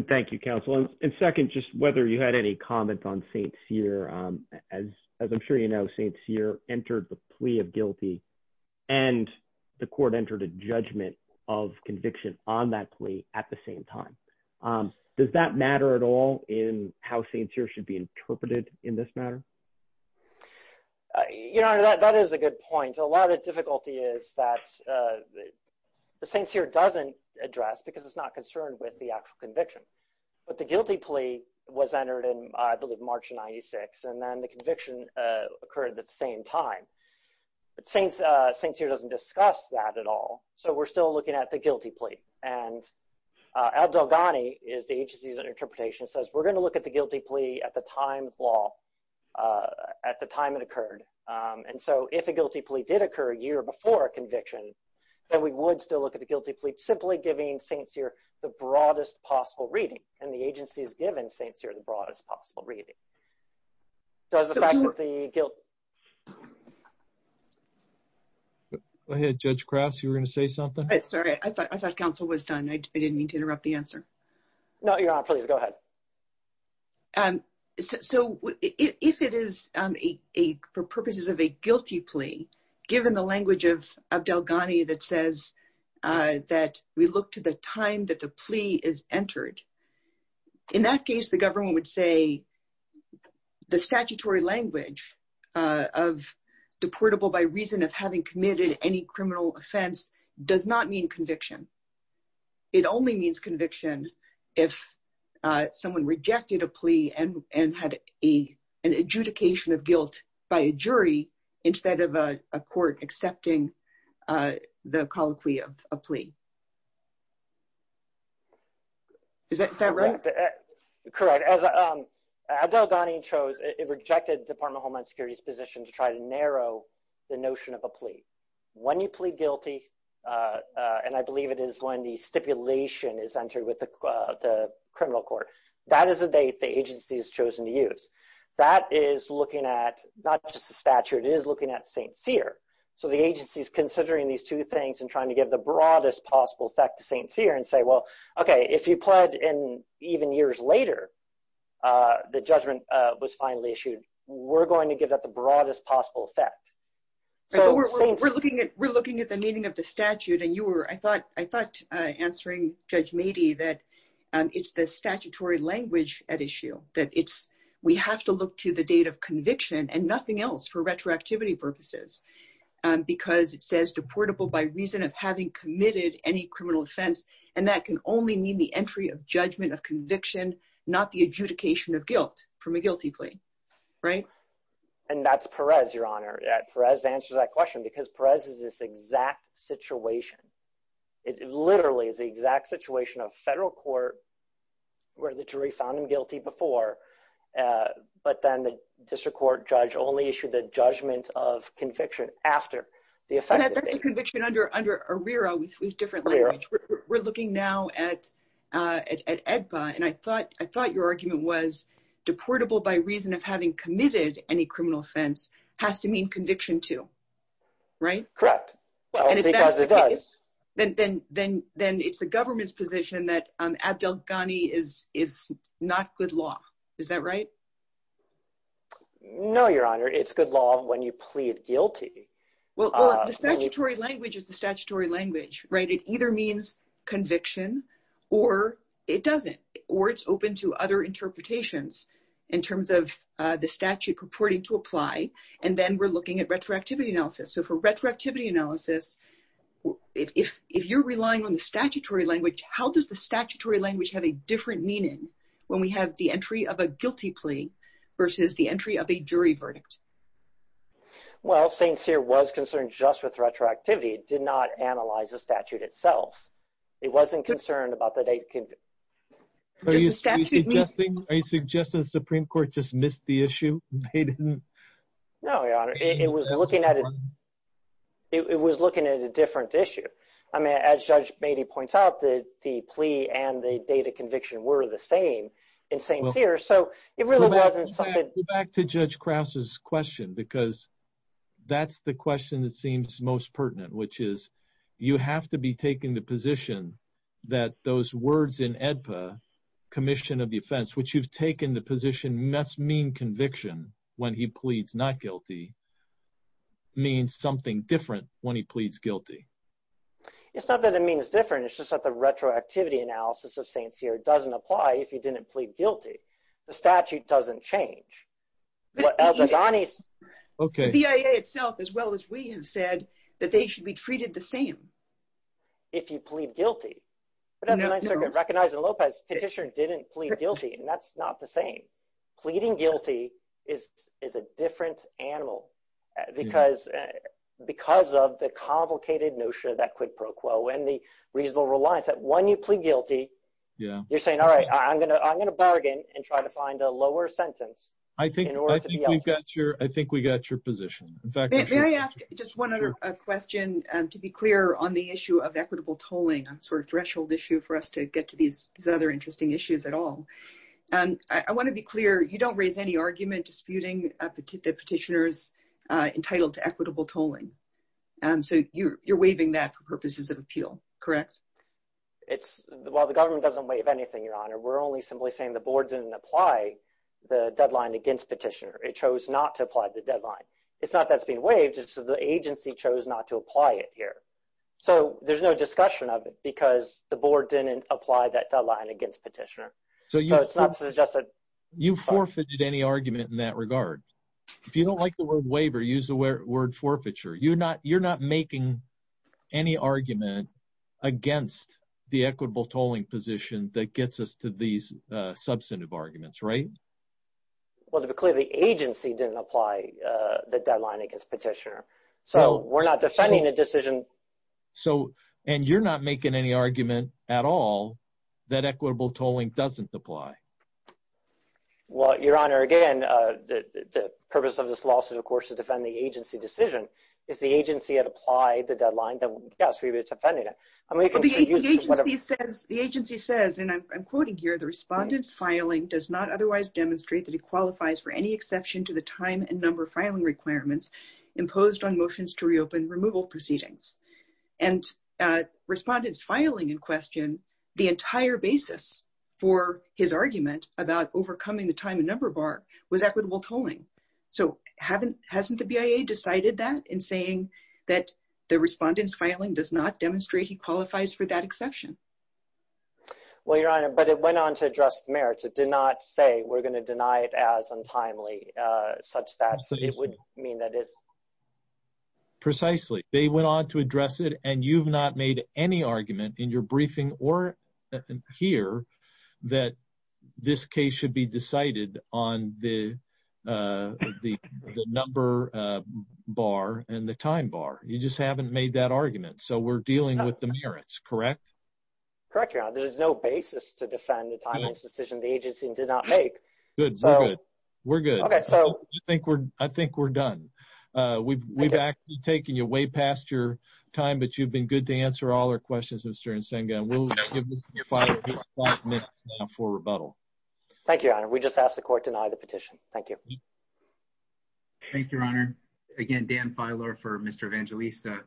thank you, counsel. And second, just whether you had any comment on St. Cyr. As I'm sure you know, St. Cyr entered the plea of guilty and the court entered a judgment of conviction on that plea at the same time. Does that matter at all in how St. Cyr should be interpreted in this matter? Your Honor, that is a good point. A lot of the difficulty is that the St. Cyr doesn't address because it's not concerned with the actual conviction. But the guilty plea was entered in, I believe, March of 96, and then the conviction occurred at the same time. But St. Cyr doesn't discuss that at all. So we're still looking at the guilty plea. And Abdel Ghani is the agency's interpretation says we're going to look at the time it occurred. And so if a guilty plea did occur a year before conviction, then we would still look at the guilty plea, simply giving St. Cyr the broadest possible reading. And the agency has given St. Cyr the broadest possible reading. Go ahead, Judge Krause, you were going to say something? Sorry, I thought counsel was done. I didn't mean to interrupt the answer. No, Your Honor, please go ahead. So if it is for purposes of a guilty plea, given the language of Abdel Ghani that says that we look to the time that the plea is entered, in that case, the government would say the statutory language of deportable by reason having committed any criminal offense does not mean conviction. It only means conviction if someone rejected a plea and had an adjudication of guilt by a jury, instead of a court accepting the colloquy of a plea. Is that right? Correct. As Abdel Ghani chose, it rejected Department of Homeland Security's position to try to narrow the notion of a plea. When you plead guilty, and I believe it is when the stipulation is entered with the criminal court, that is the date the agency has chosen to use. That is looking at not just the statute, it is looking at St. Cyr. So the agency is considering these two things and trying to give the broadest possible effect to St. Cyr and say, well, okay, if you pled in even years later, the judgment was finally issued, we're going to give that broadest possible effect. We're looking at the meaning of the statute and I thought answering Judge Meadey that it's the statutory language at issue, that we have to look to the date of conviction and nothing else for retroactivity purposes. Because it says deportable by reason of having committed any criminal offense, and that can only mean the entry of judgment of conviction, not the adjudication of guilt from a guilty plea. Right? And that's Perez, Your Honor. Perez answers that question because Perez is this exact situation. It literally is the exact situation of federal court where the jury found him guilty before, but then the district court judge only issued the judgment of conviction after the effect of conviction. That's a conviction under ARERA with different language. We're looking now at EDPA and I thought your argument was deportable by reason of having committed any criminal offense has to mean conviction too. Right? Correct. Well, because it does. Then it's the government's position that Abdel Ghani is not good law. Is that right? No, Your Honor. It's good law when you plead guilty. Well, the statutory language is the statutory language, right? It either means conviction or it doesn't, or it's open to other interpretations in terms of the statute purporting to apply. And then we're looking at retroactivity analysis. So for retroactivity analysis, if you're relying on the statutory language, how does the statutory language have a different meaning when we have the entry of a guilty plea versus the entry of a jury verdict? Well, St. Cyr was concerned just with retroactivity. It did not analyze the statute itself. It wasn't concerned about the date. Are you suggesting the Supreme Court just missed the issue? No, Your Honor. It was looking at it. It was looking at a different issue. I mean, as Judge Beatty points out that the plea and the date of conviction were the same in St. Cyr. So it really wasn't something... Go back to Judge Krause's question because that's the question that seems most pertinent, which is you have to be taking the position that those words in AEDPA, commission of the offense, which you've taken the position must mean conviction when he pleads not guilty, means something different when he pleads guilty. It's not that it means different. It's just that the retroactivity analysis of St. Cyr doesn't apply if you didn't plead guilty. The statute doesn't change. The BIA itself, as well as we have said, that they should be treated the same if you plead guilty. Recognizing Lopez petition didn't plead guilty, and that's not the same. Pleading guilty is a different animal because of the complicated notion of that quid pro quo and the reasonable reliance that when you plead guilty, you're saying, all right, I'm going to bargain and try to find a lower sentence. I think we got your position. May I ask just one other question to be clear on the issue of equitable tolling, sort of threshold issue for us to get to these other interesting issues at all. I want to be clear, you don't raise any argument disputing the petitioners entitled to equitable tolling. So you're waiving that for purposes of appeal, correct? It's – well, the government doesn't waive anything, Your Honor. We're only simply saying the board didn't apply the deadline against petitioner. It chose not to apply the deadline. It's not that it's being waived. It's just that the agency chose not to apply it here. So there's no discussion of it because the board didn't apply that deadline against petitioner. So it's not suggested – You forfeited any argument in that regard. If you don't like the word waiver, use the You're not making any argument against the equitable tolling position that gets us to these substantive arguments, right? Well, to be clear, the agency didn't apply the deadline against petitioner. So we're not defending the decision – And you're not making any argument at all that equitable tolling doesn't apply. Well, Your Honor, again, the purpose of this lawsuit, of course, is to defend the agency decision. If the agency had applied the deadline, then, yes, we would have defended it. The agency says, and I'm quoting here, the respondent's filing does not otherwise demonstrate that it qualifies for any exception to the time and number filing requirements imposed on motions to reopen removal proceedings. And respondent's filing in question, the entire basis for his argument about overcoming the time and number bar was equitable tolling. So hasn't the BIA decided that in saying that the respondent's filing does not demonstrate he qualifies for that exception? Well, Your Honor, but it went on to address the merits. It did not say we're going to deny it as untimely, such that it would mean that it's – Precisely. They went on to address it, and you've not made any argument in your briefing or here that this case should be decided on the number bar and the time bar. You just haven't made that argument. So we're dealing with the merits, correct? Correct, Your Honor. There's no basis to defend the timeline decision the agency did not make. Good. We're good. Okay, so – I think we're done. We've actually taken you way past your time, but you've been good to answer all our questions, Mr. Nsenga, and we'll give Mr. Filer just five minutes now for rebuttal. Thank you, Your Honor. We just asked the court deny the petition. Thank you. Thank you, Your Honor. Again, Dan Filer for Mr. Evangelista.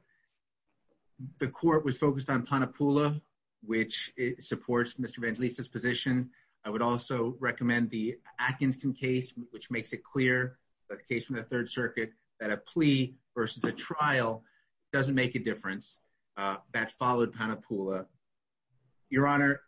The court was focused on Panapula, which supports Mr. Evangelista's position. I would also recommend the Atkinson case, which makes it clear, the case from the Third Circuit, that a plea versus a trial doesn't make a difference. That followed Panapula. Your Honor,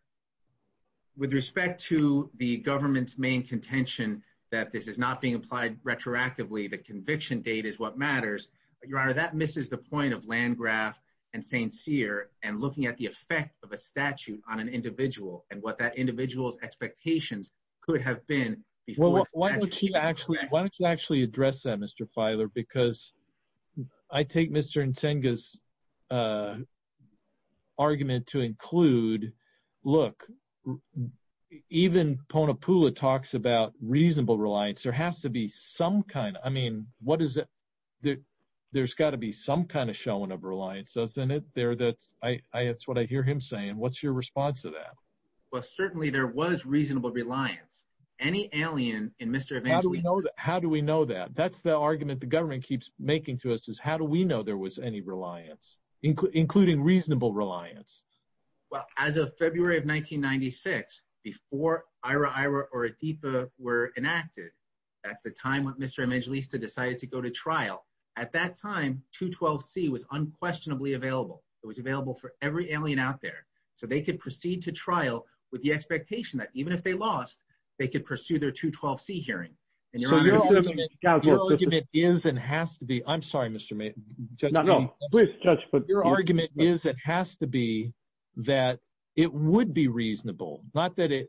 with respect to the government's main contention that this is not being applied retroactively, the conviction date is what matters. Your Honor, that misses the point of Landgraf and St. Cyr and looking at the effect of a statute on an individual and what that individual's expectations could have been. Why don't you actually address that, Mr. Filer, because I take Mr. Nsenga's argument to include, look, even Panapula talks about reasonable reliance. There has to be some kind. I mean, there's got to be some kind of showing of reliance, doesn't it? That's what I hear him saying. What's your response to that? Well, certainly there was reasonable reliance. Any alien in Mr. Evangelista... How do we know that? That's the argument the government keeps making to us, is how do we know there was any reliance, including reasonable reliance? Well, as of February of 1996, before Ira-Ira or Adipa were enacted, that's the time when Mr. Evangelista decided to go to trial. At that time, 212C was unquestionably available. It was available for every alien out there, so they could proceed to trial with the expectation that even if they lost, they could pursue their 212C hearing. Your argument is and has to be that it would be reasonable, not that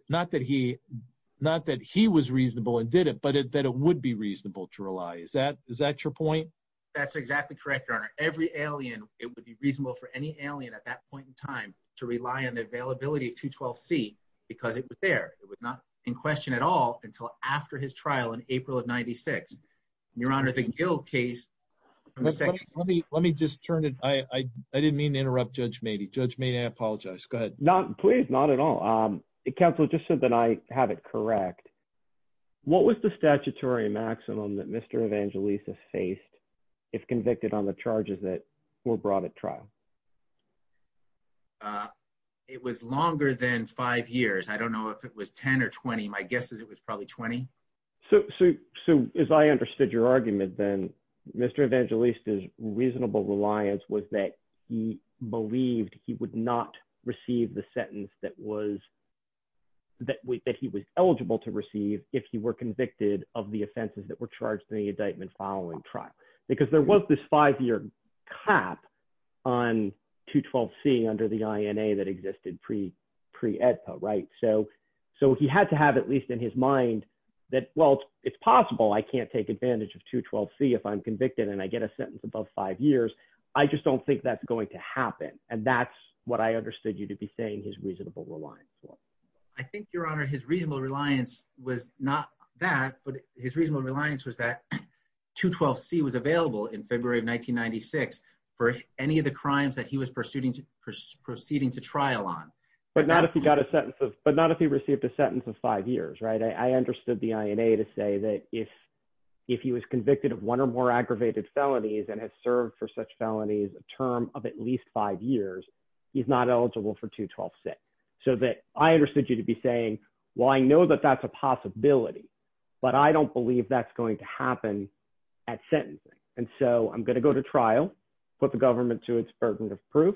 he was reasonable and did it, but that it would be reasonable to rely. Is that your point? That's exactly correct, Your Honor. Every alien, it would be reasonable for any alien at that point in time to rely on the availability of 212C because it was there. It was not in question at all until after his trial in April of 96. Your Honor, the Gill case... Let me just turn it. I didn't mean to interrupt Judge Mady. Judge Mady, I apologize. Go ahead. Please, not at all. Counsel, just so that I have it correct, what was the statutory maximum that Mr. Evangelista faced if convicted on the trial? It was longer than five years. I don't know if it was 10 or 20. My guess is it was probably 20. As I understood your argument, then, Mr. Evangelista's reasonable reliance was that he believed he would not receive the sentence that he was eligible to receive if he were convicted of the offenses that were charged in the indictment following trial because there was this five-year cap on 212C under the INA that existed pre-EDPA. He had to have, at least in his mind, that, well, it's possible I can't take advantage of 212C if I'm convicted and I get a sentence above five years. I just don't think that's going to happen. That's what I understood you to be saying his reasonable reliance was. I think, Your Honor, his reasonable reliance was not that, but his reasonable reliance was that 212C was available in February of 1996 for any of the crimes that he was proceeding to trial on. But not if he got a sentence of, but not if he received a sentence of five years, right? I understood the INA to say that if he was convicted of one or more aggravated felonies and has served for such felonies a term of at least five years, he's not eligible for 212C. So that I understood you to be saying, well, I know that that's a possibility, but I don't believe that's going to happen at sentencing. And so I'm going to go to trial, put the government to its burden of proof.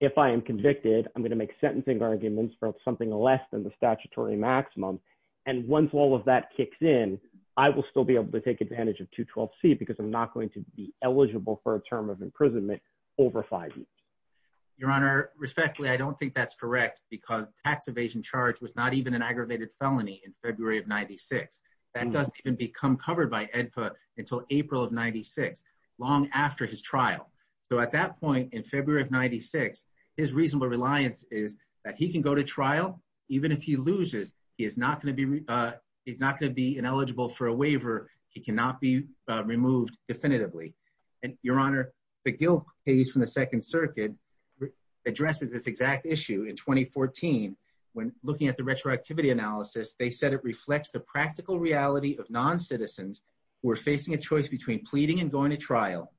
If I am convicted, I'm going to make sentencing arguments for something less than the statutory maximum. And once all of that kicks in, I will still be able to take advantage of 212C because I'm not going to be eligible for a term of imprisonment over five years. Your Honor, respectfully, I don't think that's correct because tax evasion charge was not even an aggravated felony in February of 96. That doesn't even become covered by AEDPA until April of 96, long after his trial. So at that point in February of 96, his reasonable reliance is that he can go to trial, even if he loses, he is not going to be, he's not going to be ineligible for a waiver. He cannot be removed definitively. And Your Honor, the Gil case from the second circuit addresses this exact issue. In 2014, when looking at the retroactivity analysis, they said it reflects the practical reality of non-citizens who are facing a choice between pleading and going to trial.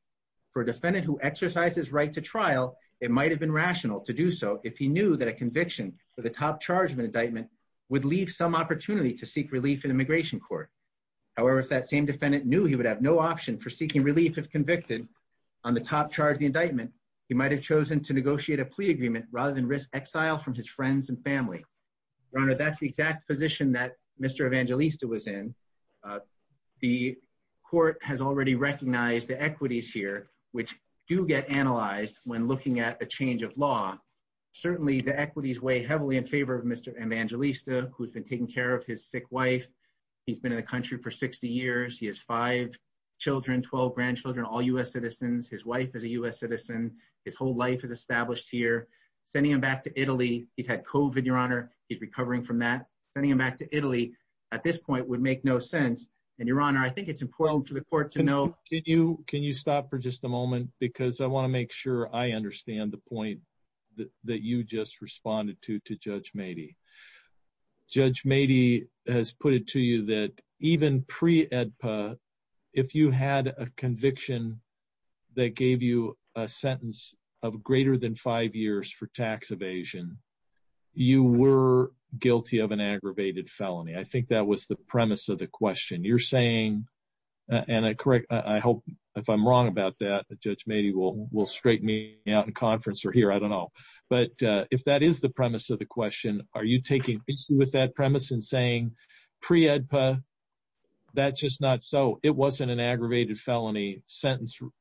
For a defendant who exercises right to trial, it might've been rational to do so if he knew that a conviction for the top charge of an indictment would leave some opportunity to seek relief in immigration court. However, if that same defendant knew he would have no option for seeking relief if convicted on the top charge of the indictment, he might've chosen to negotiate a plea agreement rather than risk exile from his friends and family. Your Honor, that's the exact position that Mr. Evangelista was in. The court has already recognized the equities here, which do get analyzed when looking at a change of law. Certainly the equities weigh heavily in favor of Mr. Evangelista, who's been taking care of his sick wife. He's been in the country for 60 years. He has five children, 12 grandchildren, all U.S. citizens. His wife is a U.S. citizen. His whole life is established here. Sending him back to Italy, he's had COVID, Your Honor. He's recovering from that. Sending him back to Italy at this point would make no sense. And Your Honor, I think it's important for the court to know- Can you stop for just a moment? Because I want to make sure I understand the point that you just responded to, to Judge Mady. Judge Mady has put it to you that even pre-AEDPA, if you had a conviction that gave you a sentence of greater than five years for tax evasion, you were guilty of an aggravated felony. I think that was the premise of the question. You're saying, and I hope if I'm wrong about that, Judge Mady will straighten me out in conference or here, I don't know. But if that is the premise of the question, are you taking with that premise and saying pre-AEDPA, that's just not so. It wasn't an aggravated felony sentencing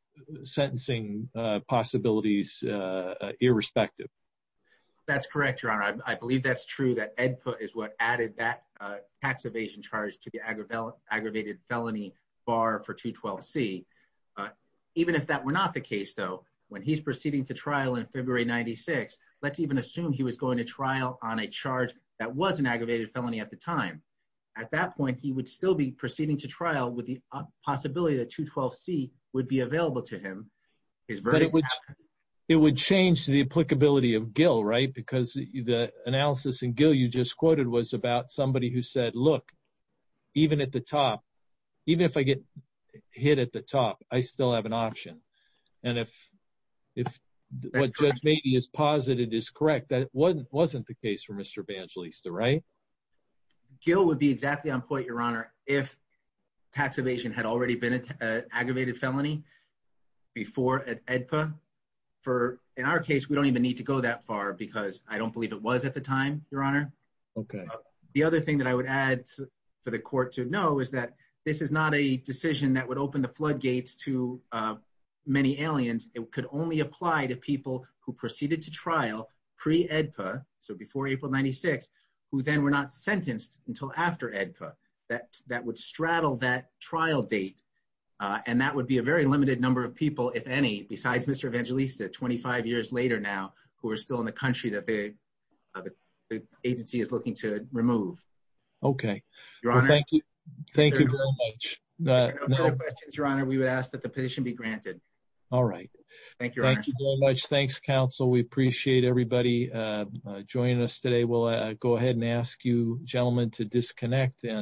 possibilities irrespective. That's correct, Your Honor. I believe that's true, that AEDPA is what added that tax evasion charge to the aggravated felony bar for 212C. Even if that were not the case though, when he's proceeding to trial in February 96, let's even assume he was going to trial on a charge that was an aggravated felony at the time. At that point, he would still be proceeding to trial with the possibility that 212C would be available to him. It would change the applicability of Gill, right? Because the analysis in Gill you just quoted was about somebody who said, look, even at the top, even if I get hit at the top, I still have an option. And if what Judge Mady has posited is correct, that wasn't the case for Mr. Evangelista, right? Gill would be exactly on point, Your Honor, if tax evasion had already been an aggravated felony before at AEDPA. In our case, we don't even need to go that far because I don't believe it was at the time, Your Honor. Okay. The other thing that I would add for the to many aliens, it could only apply to people who proceeded to trial pre-AEDPA, so before April 96, who then were not sentenced until after AEDPA. That would straddle that trial date. And that would be a very limited number of people, if any, besides Mr. Evangelista, 25 years later now, who are still in the country that the agency is looking to remove. Okay. Your Honor, we would ask that the petition be granted. All right. Thank you very much. Thanks, counsel. We appreciate everybody joining us today. We'll go ahead and ask you gentlemen to disconnect and